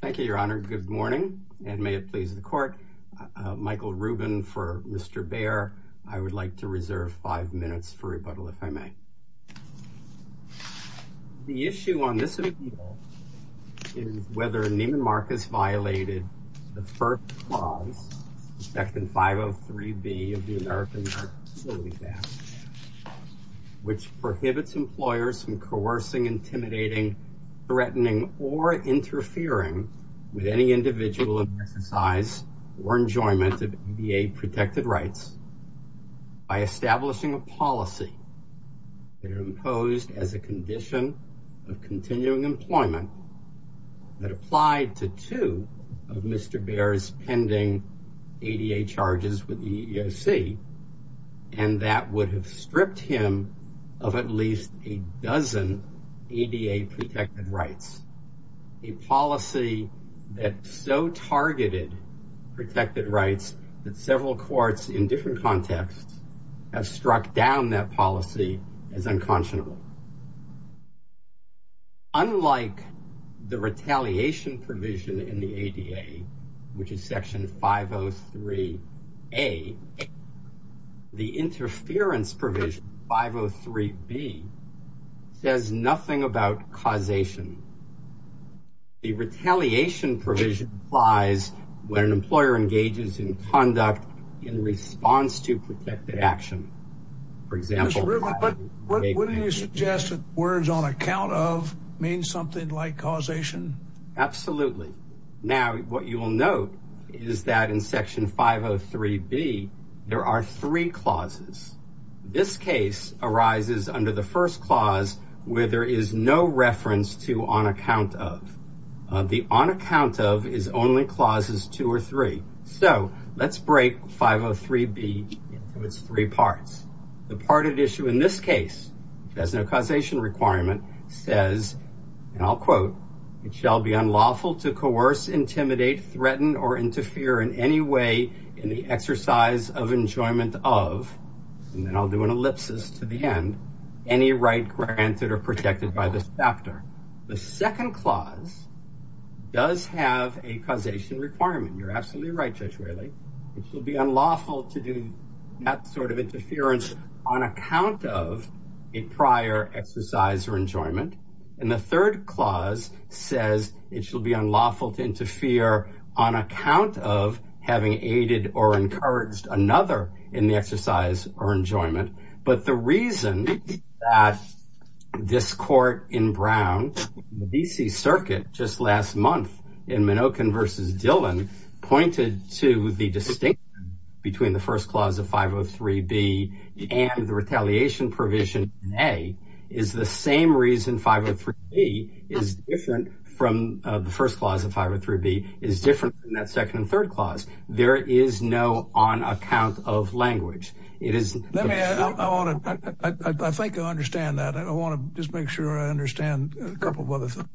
Thank you, Your Honor. Good morning, and may it please the court. Michael Rubin for Mr. Bayer. I would like to reserve five minutes for rebuttal, if I may. The issue on this is whether Neiman Marcus violated the first clause, Section 503B of the American Heart Facility Act, which prohibits employers from coercing, intimidating, threatening, or interfering with any individual exercise or enjoyment of ADA-protected rights by establishing a policy that is imposed as a condition of continuing employment that applied to two of Mr. Bayer's pending ADA charges with the EEOC, and that would have stripped him of at least a dozen ADA-protected rights. A policy that so targeted protected rights that several courts in different contexts have struck down that policy as unconscionable. Unlike the retaliation provision in the ADA, which is Section 503A, the interference provision, 503B, says nothing about causation. The retaliation provision applies when an employer engages in conduct in response to protected action. For example... Mr. Rubin, wouldn't you suggest that words on account of mean something like causation? Absolutely. Now, what you will note is that in Section 503B, there are three clauses. This case arises under the first clause, where there is no reference to on account of. The on account of is only clauses two or three. So, let's break 503B into its three parts. The part of the issue in this case, which has no causation requirement, says, and I'll quote, It shall be unlawful to coerce, intimidate, threaten, or interfere in any way in the exercise of enjoyment of, and I'll do an ellipsis to the end, any right granted or protected by this factor. The second clause does have a causation requirement. You're absolutely right, Judge Whaley. It shall be unlawful to do that sort of interference on account of a prior exercise or enjoyment. And the third clause says it shall be unlawful to interfere on account of having aided or encouraged another in the exercise or enjoyment. But the reason that this court in Brown, the D.C. Circuit, just last month in Minokin v. Dillon, pointed to the distinction between the first clause of 503B and the retaliation provision in A, is the same reason 503B is different from the first clause of 503B is different from that second and third clause. There is no on account of language. Let me add, I think I understand that. I want to just make sure I understand a couple of other things.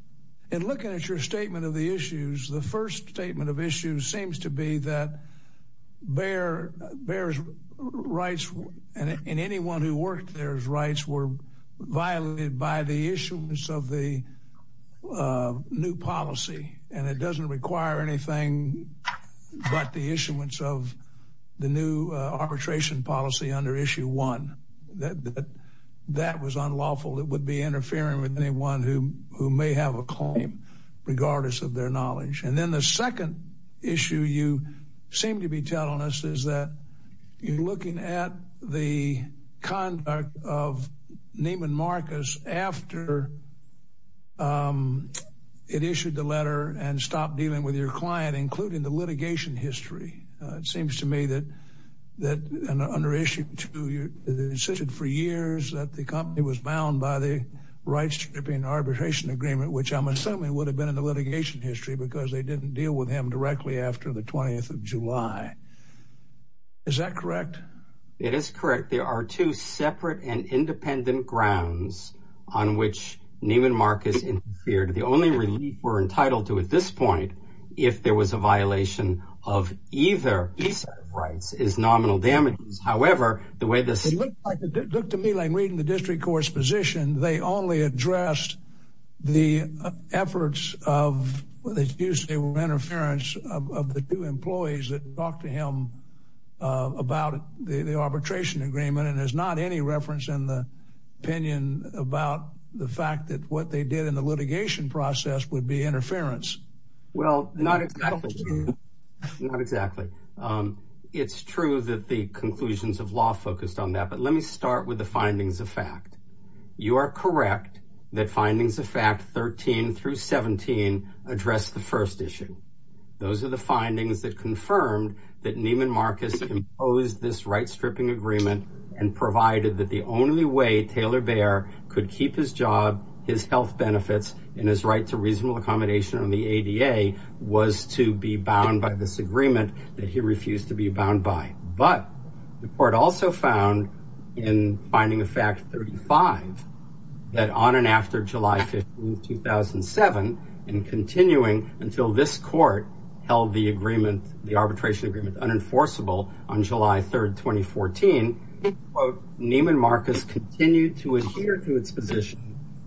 In looking at your statement of the issues, the first statement of issues seems to be that Bayer's rights and anyone who worked there's rights were violated by the issuance of the new policy. And it doesn't require anything but the issuance of the new arbitration policy under Issue 1. That was unlawful. It would be interfering with anyone who may have a claim, regardless of their knowledge. And then the second issue you seem to be telling us is that you're looking at the conduct of Neiman Marcus after it issued the letter and stopped dealing with your client, including the litigation history. It seems to me that under Issue 2, it was issued for years that the company was bound by the rights to the arbitration agreement, which I'm assuming would have been in the litigation history because they didn't deal with him directly after the 20th of July. Is that correct? It is correct. There are two separate and independent grounds on which Neiman Marcus interfered. The only relief we're entitled to at this point, if there was a violation of either piece of rights, is nominal damages. It looked to me like reading the district court's position, they only addressed the efforts of the two employees that talked to him about the arbitration agreement. And there's not any reference in the opinion about the fact that what they did in the litigation process would be interference. Well, not exactly. Not exactly. It's true that the conclusions of law focused on that. But let me start with the findings of fact. You are correct that findings of fact 13 through 17 address the first issue. Those are the findings that confirmed that Neiman Marcus imposed this right stripping agreement and provided that the only way Taylor Bear could keep his job, his health benefits, and his right to reasonable accommodation on the ADA was to be bound by this agreement that he refused to be bound by. But the court also found in finding of fact 35 that on and after July 15, 2007, and continuing until this court held the arbitration agreement unenforceable on July 3, 2014, Neiman Marcus continued to adhere to its position,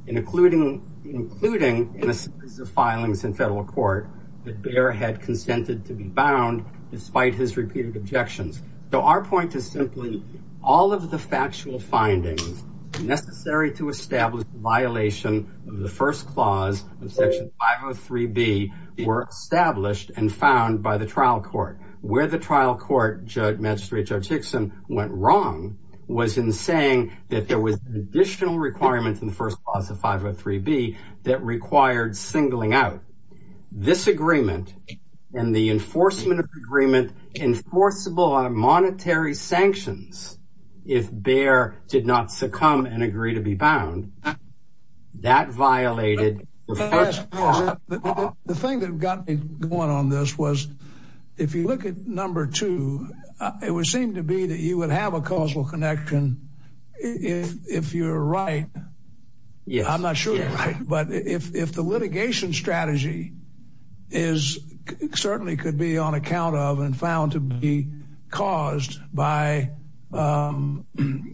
including in a series of filings in federal court that Bear had consented to be bound despite his repeated objections. So our point is simply all of the factual findings necessary to establish the violation of the first clause of Section 503B were established and found by the trial court. Where the trial court, Judge Magistrate Judge Hickson, went wrong was in saying that there was an additional requirement in the first clause of 503B that required singling out this agreement and the enforcement of agreement enforceable on monetary sanctions. If Bear did not succumb and agree to be bound, that violated the first clause. The thing that got me going on this was, if you look at number two, it would seem to be that you would have a causal connection if you're right. Yeah, I'm not sure. But if the litigation strategy is certainly could be on account of and found to be caused by injuries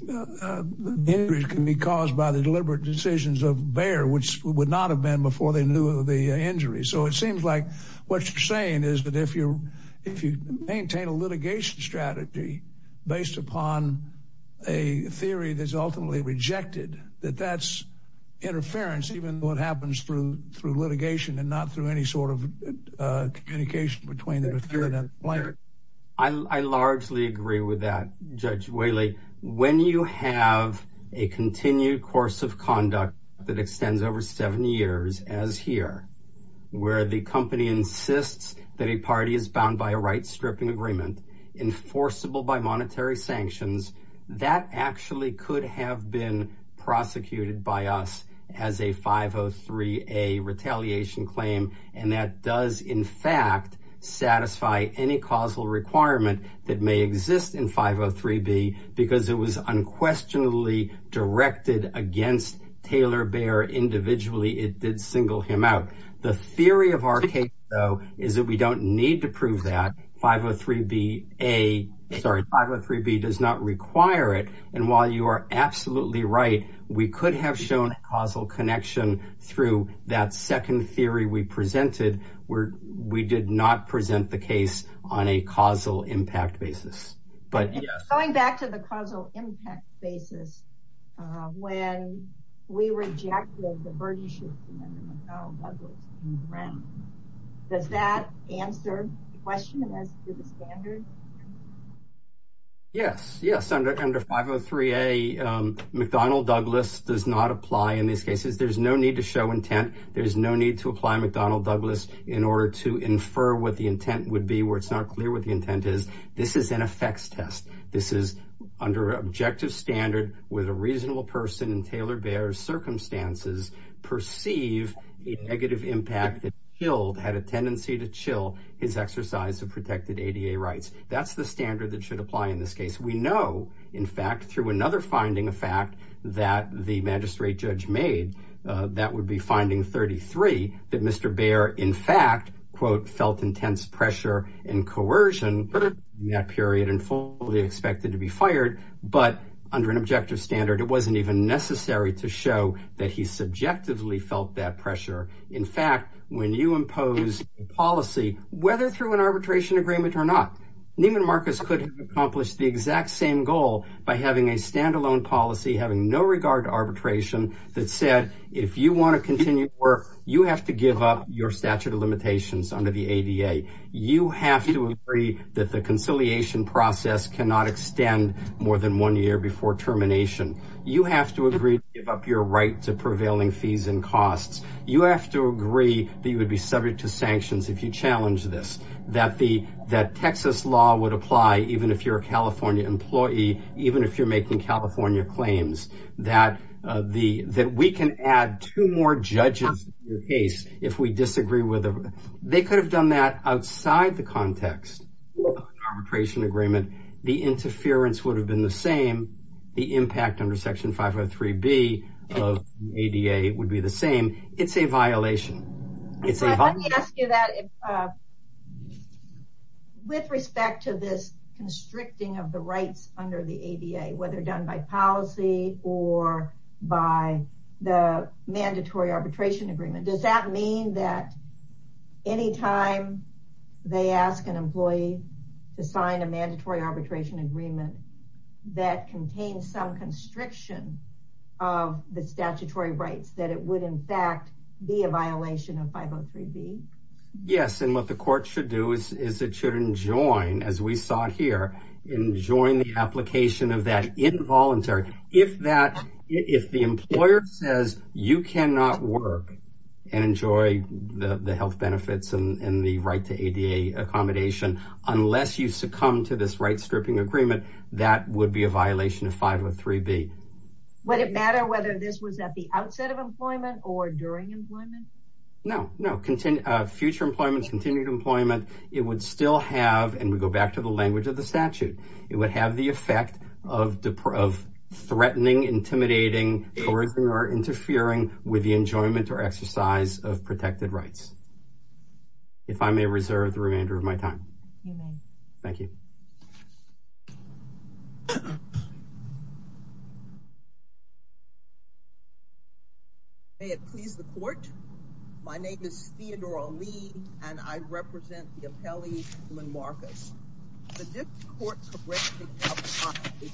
can be caused by the deliberate decisions of Bear, which would not have been before they knew the injury. So it seems like what you're saying is that if you if you maintain a litigation strategy based upon a theory that's ultimately rejected, that that's interference, even though it happens through through litigation and not through any sort of communication between the defendant and the plaintiff. I largely agree with that. Judge Whaley, when you have a continued course of conduct that extends over seven years as here, where the company insists that a party is bound by a right stripping agreement enforceable by monetary sanctions. That actually could have been prosecuted by us as a 503, a retaliation claim. And that does, in fact, satisfy any causal requirement that may exist in 503 B because it was unquestionably directed against Taylor Bear individually. It did single him out. The theory of our case, though, is that we don't need to prove that 503 B, a sorry, 503 B does not require it. And while you are absolutely right, we could have shown causal connection through that second theory we presented where we did not present the case on a causal impact basis. But going back to the causal impact basis, when we rejected the verdict, does that answer the question as to the standard? Yes. Yes. Under 503 A, McDonnell Douglas does not apply in these cases. There's no need to show intent. There's no need to apply McDonnell Douglas in order to infer what the intent would be where it's not clear what the intent is. That's the standard that should apply in this case. We know, in fact, through another finding, a fact that the magistrate judge made that would be finding 33 that Mr. Bear, in fact, quote, felt intense pressure and coercion. That period and fully expected to be fired. But under an objective standard, it wasn't even necessary to show that he subjectively felt that pressure. In fact, when you impose policy, whether through an arbitration agreement or not, Neiman Marcus could accomplish the exact same goal by having a standalone policy, having no regard to arbitration that said, if you want to continue work, you have to give up your statute of limitations under the ADA. You have to agree that the conciliation process cannot extend more than one year before termination. You have to agree to give up your right to prevailing fees and costs. You have to agree that you would be subject to sanctions if you challenge this. That Texas law would apply even if you're a California employee, even if you're making California claims. That we can add two more judges to your case if we disagree. They could have done that outside the context of an arbitration agreement. The interference would have been the same. The impact under Section 503B of ADA would be the same. It's a violation. Let me ask you that. With respect to this constricting of the rights under the ADA, whether done by policy or by the mandatory arbitration agreement, does that mean that any time they ask an employee to sign a mandatory arbitration agreement that contains some constriction of the statutory rights, that it would in fact be a violation? Yes. And what the court should do is it should enjoin, as we saw here, enjoin the application of that involuntary. If the employer says you cannot work and enjoy the health benefits and the right to ADA accommodation, unless you succumb to this right stripping agreement, that would be a violation of 503B. Would it matter whether this was at the outset of employment or during employment? No, no. Future employment, continued employment, it would still have, and we go back to the language of the statute, it would have the effect of threatening, intimidating, coercing, or interfering with the enjoyment or exercise of protected rights. If I may reserve the remainder of my time. Thank you. May it please the court. My name is Theodore Ali, and I represent the appellee, Lynn Marcus. The district court corrected the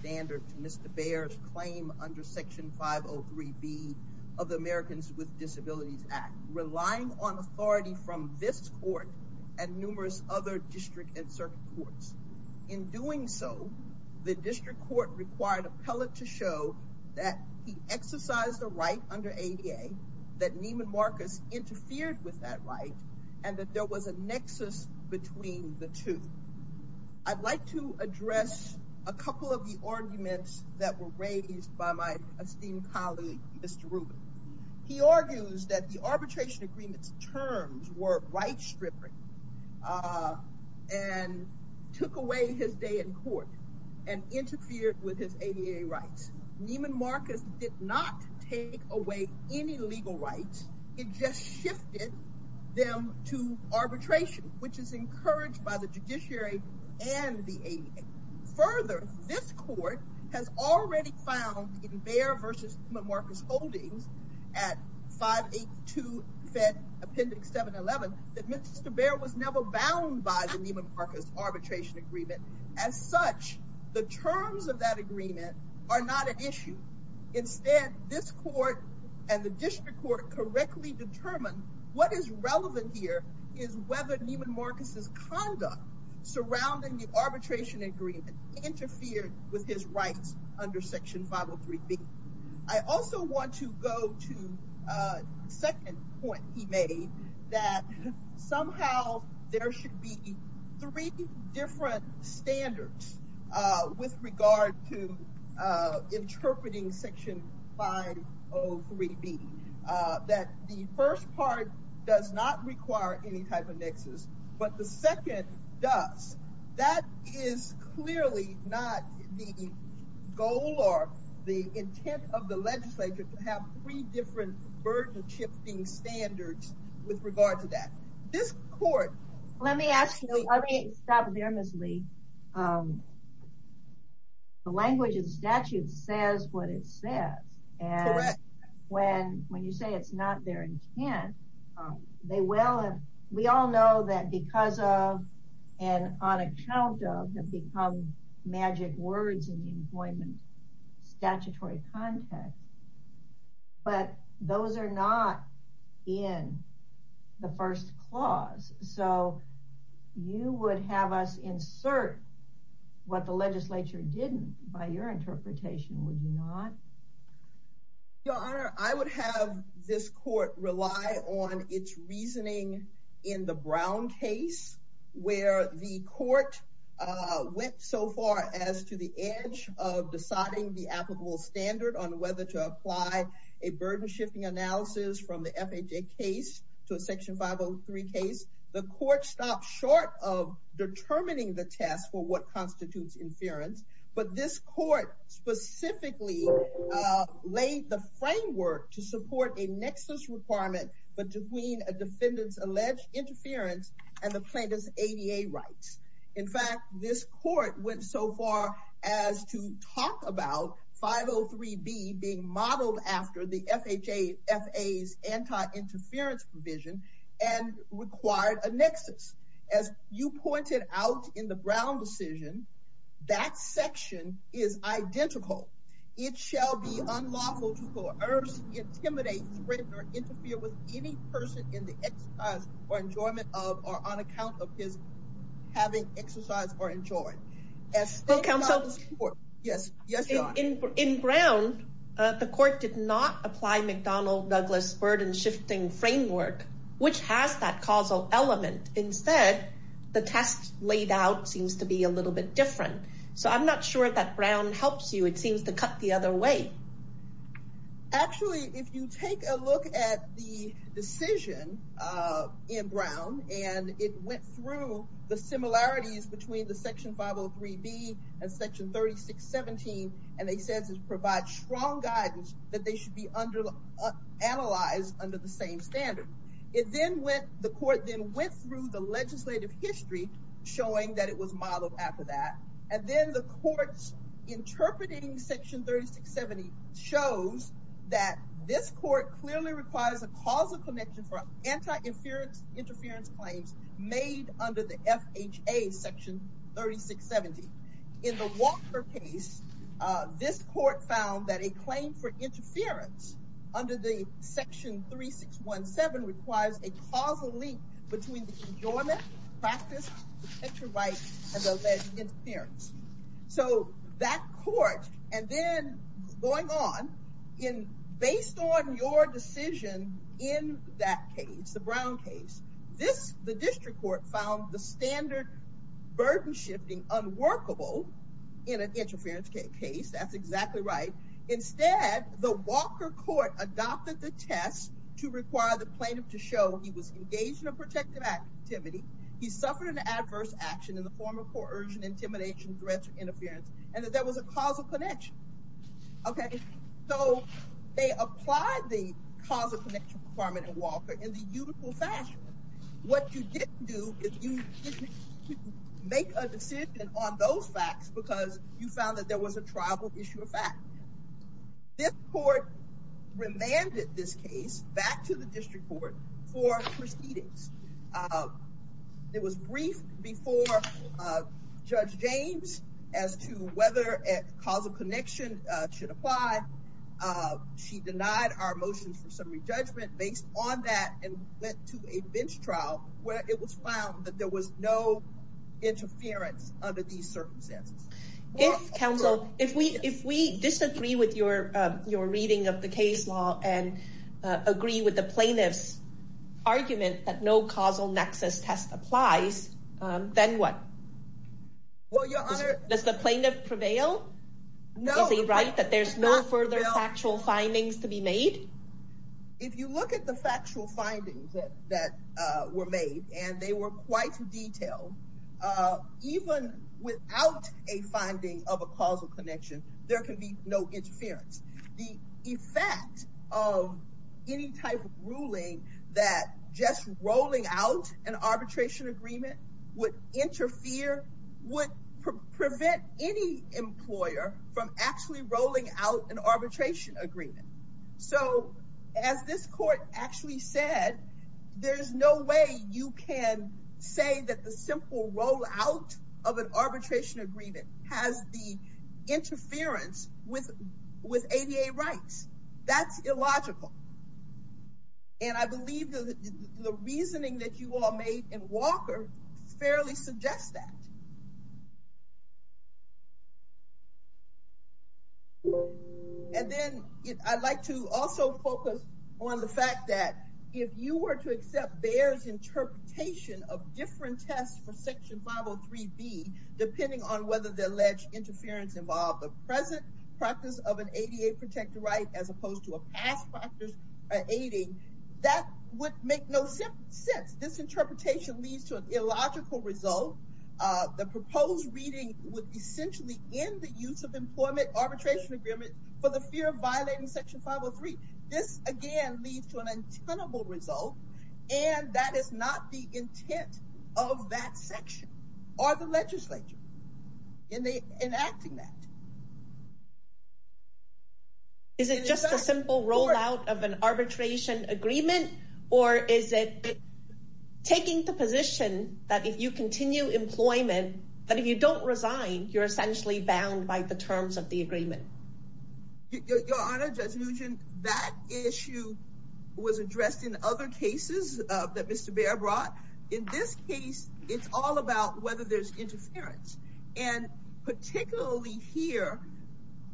standard to Mr. Bayer's claim under Section 503B of the Americans with Disabilities Act, relying on authority from this court and numerous other district and circuit courts. In doing so, the district court required an appellate to show that he exercised a right under ADA, that Neiman Marcus interfered with that right, and that there was a nexus between the two. I'd like to address a couple of the arguments that were raised by my esteemed colleague, Mr. Rubin. He argues that the arbitration agreement's terms were right stripping and took away his day in court and interfered with his ADA rights. Neiman Marcus did not take away any legal rights. It just shifted them to arbitration, which is encouraged by the judiciary and the ADA. Further, this court has already found in Bayer v. Neiman Marcus' holdings at 582 Fed Appendix 711 that Mr. Bayer was never bound by the Neiman Marcus arbitration agreement. As such, the terms of that agreement are not an issue. Instead, this court and the district court correctly determined what is relevant here is whether Neiman Marcus' conduct surrounding the arbitration agreement interfered with his rights under Section 503B. I also want to go to the second point he made, that somehow there should be three different standards with regard to interpreting Section 503B. That the first part does not require any type of nexus, but the second does. That is clearly not the goal or the intent of the legislature to have three different burden-shifting standards with regard to that. Let me ask you, let me stop there, Ms. Lee. The language of the statute says what it says. Correct. When you say it's not their intent, we all know that because of and on account of have become magic words in the employment statutory context. But those are not in the first clause. So you would have us insert what the legislature didn't by your interpretation, would you not? Your Honor, I would have this court rely on its reasoning in the Brown case, where the court went so far as to the edge of deciding the applicable standard on whether to apply a burden-shifting analysis from the FHA case to a Section 503 case. The court stopped short of determining the test for what constitutes inference, but this court specifically laid the framework to support a nexus requirement between a defendant's alleged interference and the plaintiff's ADA rights. In fact, this court went so far as to talk about 503B being modeled after the FHA's anti-interference provision and required a nexus. As you pointed out in the Brown decision, that section is identical. It shall be unlawful to coerce, intimidate, threaten, or interfere with any person in the exercise or enjoyment of or on account of his having exercised or enjoyed. In Brown, the court did not apply McDonnell-Douglas burden-shifting framework, which has that causal element. Instead, the test laid out seems to be a little bit different. So I'm not sure that Brown helps you. It seems to cut the other way. Actually, if you take a look at the decision in Brown, and it went through the similarities between the Section 503B and Section 3617, and it says it provides strong guidance that they should be analyzed under the same standard. The court then went through the legislative history, showing that it was modeled after that. And then the court's interpreting Section 3670 shows that this court clearly requires a causal connection for anti-interference claims made under the FHA Section 3670. In the Walker case, this court found that a claim for interference under the Section 3617 requires a causal link between the enjoyment, practice, and the alleged interference. So that court, and then going on, based on your decision in that case, the Brown case, the district court found the standard burden-shifting unworkable in an interference case. That's exactly right. Instead, the Walker court adopted the test to require the plaintiff to show he was engaged in a protective activity, he suffered an adverse action in the form of coercion, intimidation, threats, or interference, and that there was a causal connection. Okay, so they applied the causal connection requirement in Walker in the uniform fashion. What you didn't do is you didn't make a decision on those facts because you found that there was a tribal issue of fact. This court remanded this case back to the district court for proceedings. It was briefed before Judge James as to whether a causal connection should apply. She denied our motions for summary judgment based on that and went to a bench trial where it was found that there was no interference under these circumstances. Counsel, if we disagree with your reading of the case law and agree with the plaintiff's argument that no causal nexus test applies, then what? Does the plaintiff prevail? Is he right that there's no further factual findings to be made? If you look at the factual findings that were made, and they were quite detailed, even without a finding of a causal connection, there can be no interference. The effect of any type of ruling that just rolling out an arbitration agreement would interfere, would prevent any employer from actually rolling out an arbitration agreement. As this court actually said, there's no way you can say that the simple rollout of an arbitration agreement has the interference with ADA rights. That's illogical. I believe the reasoning that you all made in Walker fairly suggests that. And then I'd like to also focus on the fact that if you were to accept bears interpretation of different tests for Section 503B, depending on whether the alleged interference involved the present practice of an ADA protected right, as opposed to a past factors aiding, that would make no sense. This interpretation leads to an illogical result. The proposed reading would essentially end the use of employment arbitration agreement for the fear of violating Section 503. This again leads to an untenable result. And that is not the intent of that section or the legislature. And they enacting that. And particularly here,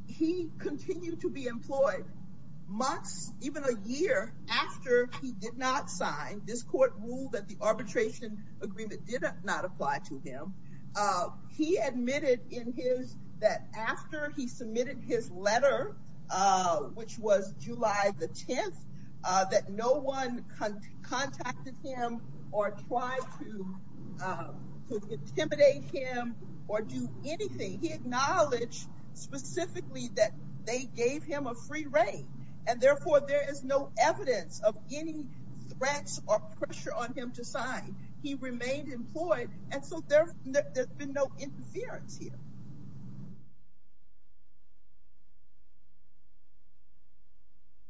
he continued to be employed months, even a year after he did not sign this court rule that the arbitration agreement did not apply to him. He admitted in his that after he submitted his letter, which was July the 10th, that no one contacted him or tried to intimidate him or do anything. He acknowledged specifically that they gave him a free rein. And therefore, there is no evidence of any threats or pressure on him to sign. He remained employed. And so there's been no interference here.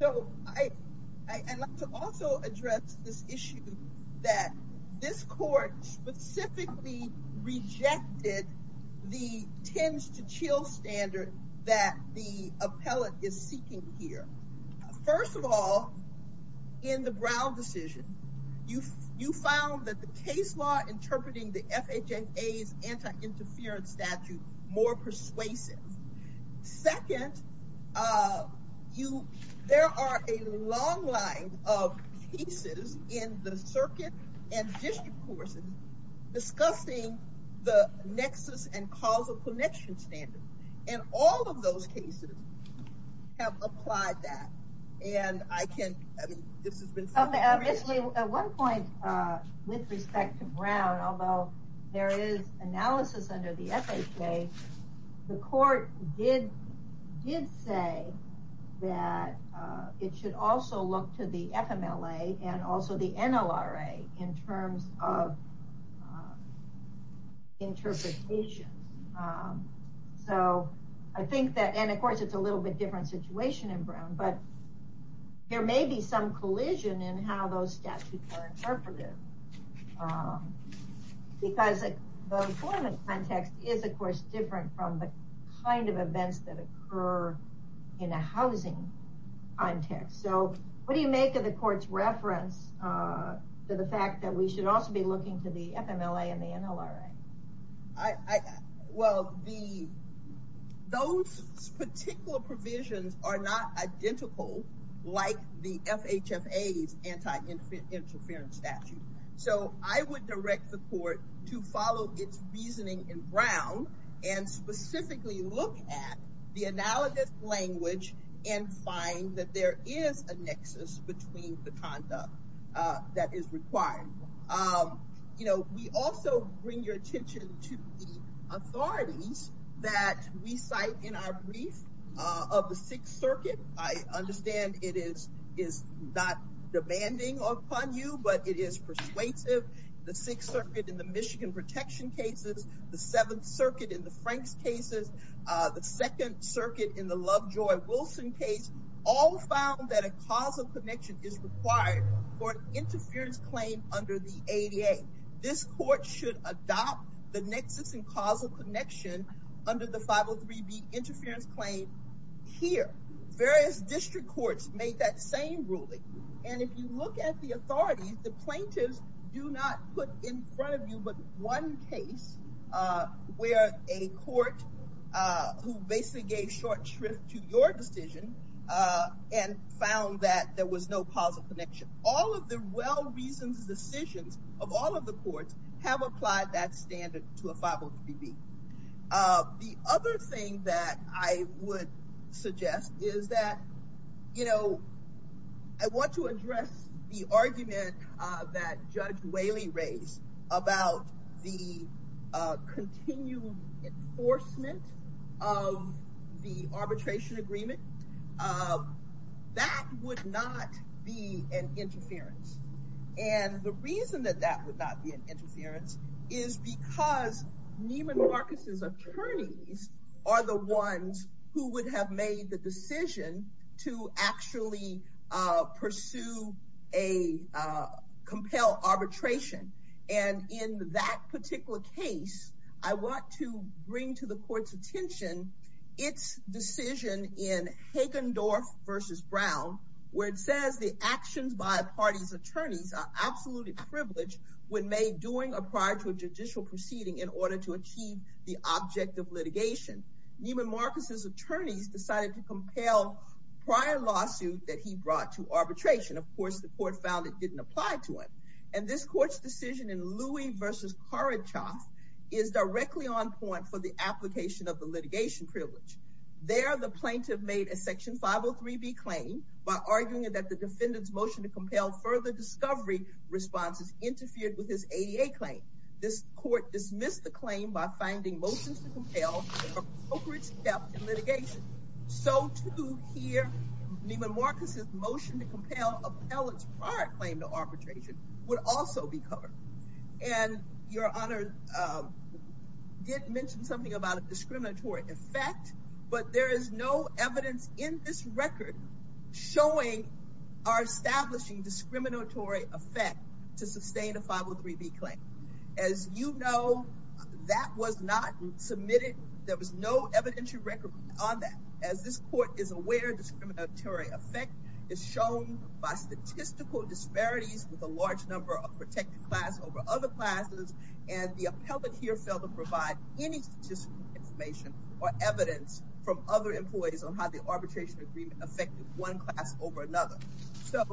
So I like to also address this issue that this court specifically rejected the tends to chill standard that the appellate is seeking here. First of all, in the Brown decision, you you found that the case law interpreting the FHA's anti interference statute more persuasive. Second, you there are a long line of pieces in the circuit and district courses discussing the nexus and causal connection standard. And all of those cases have applied that. And I can. Obviously, at one point with respect to Brown, although there is analysis under the FHA, the court did did say that it should also look to the FMLA and also the NLRA in terms of interpretation. So I think that and of course, it's a little bit different situation in Brown, but there may be some collision in how those statutes are interpreted. Because the employment context is, of course, different from the kind of events that occur in a housing context. So what do you make of the court's reference to the fact that we should also be looking to the FMLA and the NLRA? I well, the those particular provisions are not identical, like the FHA's anti interference statute. So I would direct the court to follow its reasoning in Brown and specifically look at the analogous language and find that there is a nexus between the conduct that is required. You know, we also bring your attention to the authorities that we cite in our brief of the Sixth Circuit. I understand it is is not demanding upon you, but it is persuasive. The Sixth Circuit in the Michigan protection cases, the Seventh Circuit in the Franks cases, the Second Circuit in the Lovejoy-Wilson case, all found that a causal connection is required for interference claim under the ADA. This court should adopt the nexus and causal connection under the 503B interference claim here. Various district courts made that same ruling. And if you look at the authorities, the plaintiffs do not put in front of you, but one case where a court who basically gave short shrift to your decision and found that there was no causal connection. All of the well-reasoned decisions of all of the courts have applied that standard to a 503B. The other thing that I would suggest is that, you know, I want to address the argument that Judge Whaley raised about the continued enforcement of the arbitration agreement. That would not be an interference. And the reason that that would not be an interference is because Neiman Marcus's attorneys are the ones who would have made the decision to actually pursue a compel arbitration. And in that particular case, I want to bring to the court's attention its decision in Hagendorf v. Brown, where it says the actions by a party's attorneys are absolutely privileged when made during or prior to a judicial proceeding in order to achieve the object of litigation. Neiman Marcus's attorneys decided to compel prior lawsuit that he brought to arbitration. Of course, the court found it didn't apply to him. And this court's decision in Louie v. Kharachoff is directly on point for the application of the litigation privilege. There, the plaintiff made a section 503B claim by arguing that the defendant's motion to compel further discovery responses interfered with his ADA claim. This court dismissed the claim by finding motions to compel appropriate steps in litigation. So to hear Neiman Marcus's motion to compel appellate's prior claim to arbitration would also be covered. And Your Honor did mention something about a discriminatory effect, but there is no evidence in this record showing or establishing discriminatory effect to sustain a 503B claim. As you know, that was not submitted. There was no evidentiary record on that. As this court is aware, discriminatory effect is shown by statistical disparities with a large number of protected class over other classes, and the appellate here failed to provide any statistical information or evidence from other employees on how the arbitration agreement affected one class over another. So,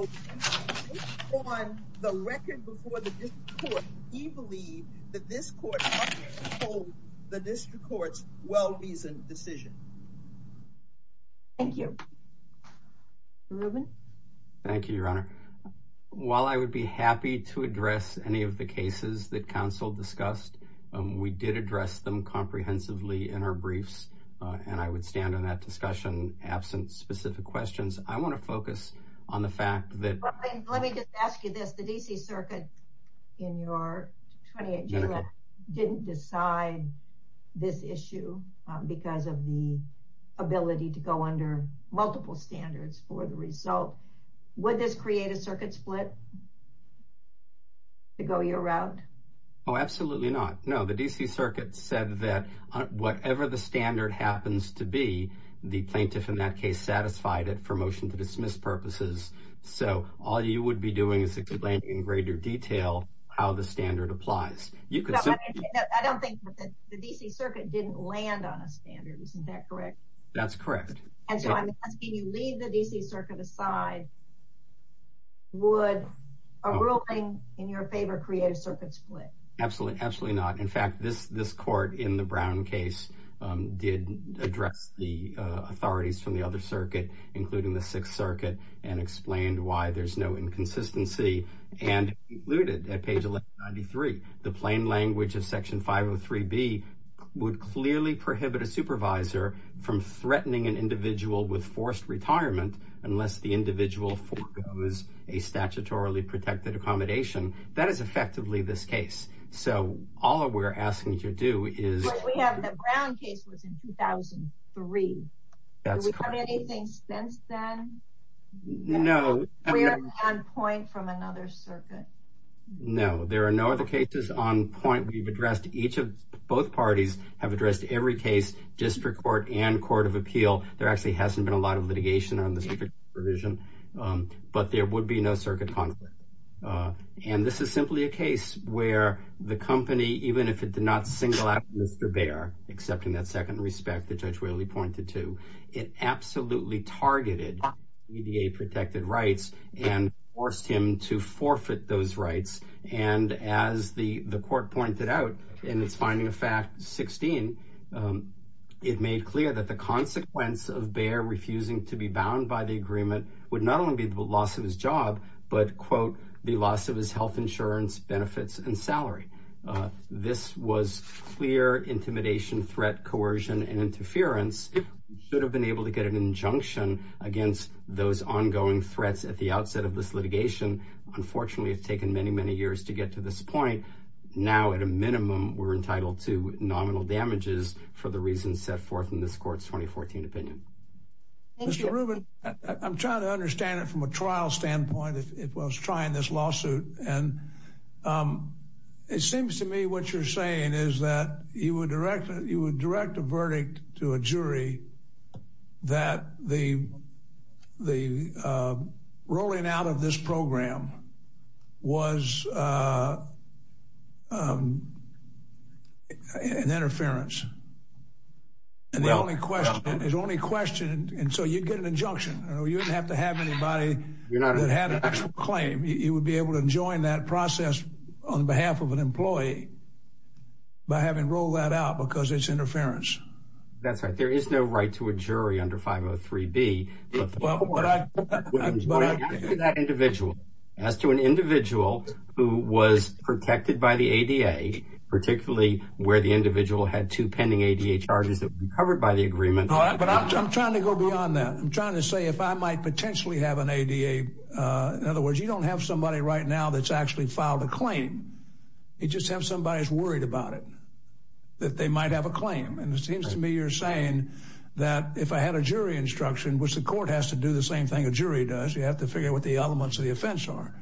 based on the record before the district court, we believe that this court must uphold the district court's well-reasoned decision. Thank you. Reuben? Thank you, Your Honor. While I would be happy to address any of the cases that counsel discussed, we did address them comprehensively in our briefs, and I would stand on that discussion absent specific questions. I want to focus on the fact that... So, would this create a circuit split to go your route? Oh, absolutely not. No, the D.C. Circuit said that whatever the standard happens to be, the plaintiff in that case satisfied it for motion to dismiss purposes. So, all you would be doing is explaining in greater detail how the standard applies. I don't think that the D.C. Circuit didn't land on a standard. Isn't that correct? That's correct. And so, I'm asking you to leave the D.C. Circuit aside. Would a ruling in your favor create a circuit split? Absolutely not. In fact, this court in the Brown case did address the authorities from the other circuit, including the Sixth Circuit, and explained why there's no inconsistency. And it concluded at page 1193, the plain language of Section 503B would clearly prohibit a supervisor from threatening an individual with forced retirement unless the individual foregoes a statutorily protected accommodation. That is effectively this case. So, all we're asking you to do is... But we have the Brown case was in 2003. That's correct. Do we have anything since then? No. We haven't had a point from another circuit. No, there are no other cases on point. We've addressed each of both parties, have addressed every case, district court and court of appeal. There actually hasn't been a lot of litigation on this provision, but there would be no circuit conflict. And this is simply a case where the company, even if it did not single out Mr. Baer, accepting that second respect that Judge Whaley pointed to, it absolutely targeted EDA protected rights and forced him to forfeit those rights. And as the court pointed out in its finding of fact 16, it made clear that the consequence of Baer refusing to be bound by the agreement would not only be the loss of his job, but, quote, the loss of his health insurance, benefits and salary. This was clear intimidation, threat, coercion and interference should have been able to get an injunction against those ongoing threats at the outset of this litigation. Unfortunately, it's taken many, many years to get to this point. Now, at a minimum, we're entitled to nominal damages for the reasons set forth in this court's 2014 opinion. Mr. Rubin, I'm trying to understand it from a trial standpoint. It was trying this lawsuit. And it seems to me what you're saying is that you would direct you would direct a verdict to a jury that the the rolling out of this program was an interference. And the only question is only question. And so you get an injunction. You don't have to have anybody that had a claim. You would be able to join that process on behalf of an employee. By having rolled that out because it's interference. That's right. There is no right to a jury under 503 B. But that individual as to an individual who was protected by the A.D.A., particularly where the individual had two pending charges that were covered by the agreement. But I'm trying to go beyond that. I'm trying to say if I might potentially have an A.D.A. In other words, you don't have somebody right now that's actually filed a claim. You just have somebody is worried about it, that they might have a claim. And it seems to me you're saying that if I had a jury instruction, which the court has to do the same thing a jury does, you have to figure out what the elements of the offense are.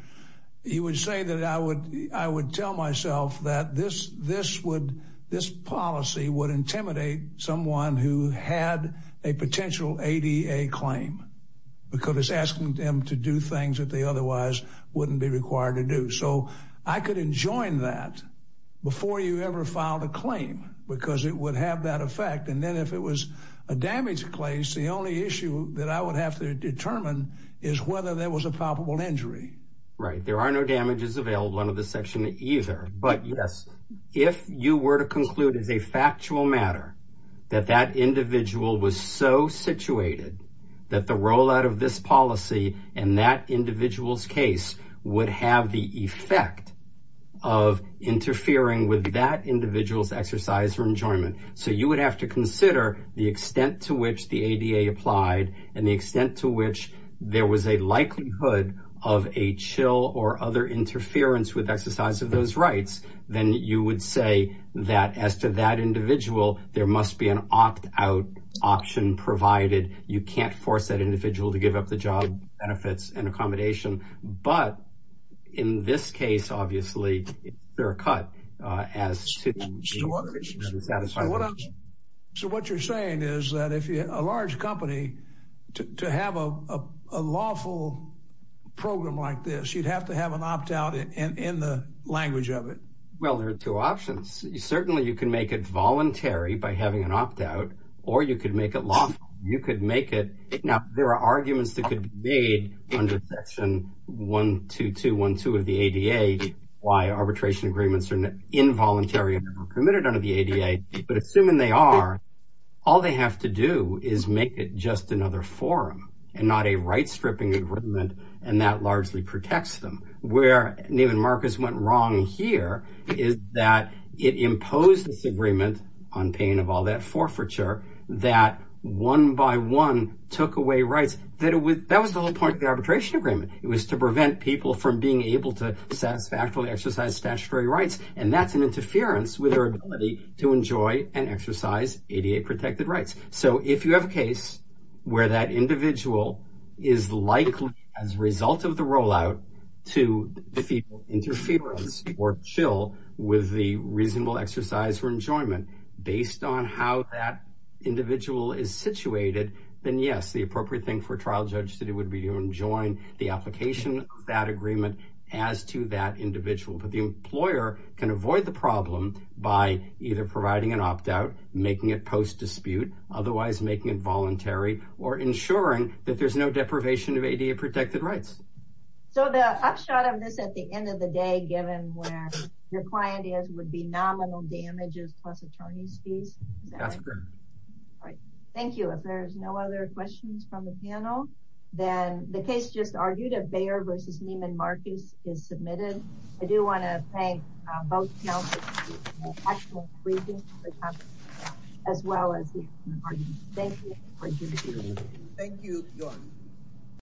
You would say that I would I would tell myself that this this would this policy would intimidate someone who had a potential A.D.A. claim because it's asking them to do things that they otherwise wouldn't be required to do. So I could enjoin that before you ever filed a claim because it would have that effect. And then if it was a damaged place, the only issue that I would have to determine is whether there was a probable injury. Right. There are no damages available under the section either. But, yes, if you were to conclude as a factual matter that that individual was so situated that the rollout of this policy and that individual's case would have the effect of interfering with that individual's exercise or enjoyment. So you would have to consider the extent to which the A.D.A. applied and the extent to which there was a likelihood of a chill or other interference with exercise of those rights. Then you would say that as to that individual, there must be an opt out option provided. You can't force that individual to give up the job benefits and accommodation. But in this case, obviously, they're a cut as to what you're saying is that if a large company to have a lawful program like this, you'd have to have an opt out in the language of it. Well, there are two options. Certainly you can make it voluntary by having an opt out or you could make it lawful. Now, there are arguments that could be made under Section 12212 of the A.D.A. Why arbitration agreements are involuntary and permitted under the A.D.A. But assuming they are, all they have to do is make it just another forum and not a right stripping agreement. And that largely protects them. Where Neiman Marcus went wrong here is that it imposed this agreement on pain of all that forfeiture that one by one took away rights. That was the whole point of the arbitration agreement. It was to prevent people from being able to satisfactorily exercise statutory rights. And that's an interference with our ability to enjoy and exercise A.D.A. protected rights. So if you have a case where that individual is likely, as a result of the rollout, to feel interference or chill with the reasonable exercise for enjoyment, based on how that individual is situated, then yes, the appropriate thing for a trial judge would be to enjoin the application of that agreement as to that individual. But the employer can avoid the problem by either providing an opt-out, making it post-dispute, otherwise making it voluntary, or ensuring that there's no deprivation of A.D.A. protected rights. So the upshot of this at the end of the day, given where your client is, would be nominal damages plus attorney's fees. That's correct. Thank you. If there's no other questions from the panel, then the case just argued at Bayer v. Neiman Marcus is submitted. I do want to thank both counsels for the actual briefing as well as the argument. Thank you. Thank you, Your Honor.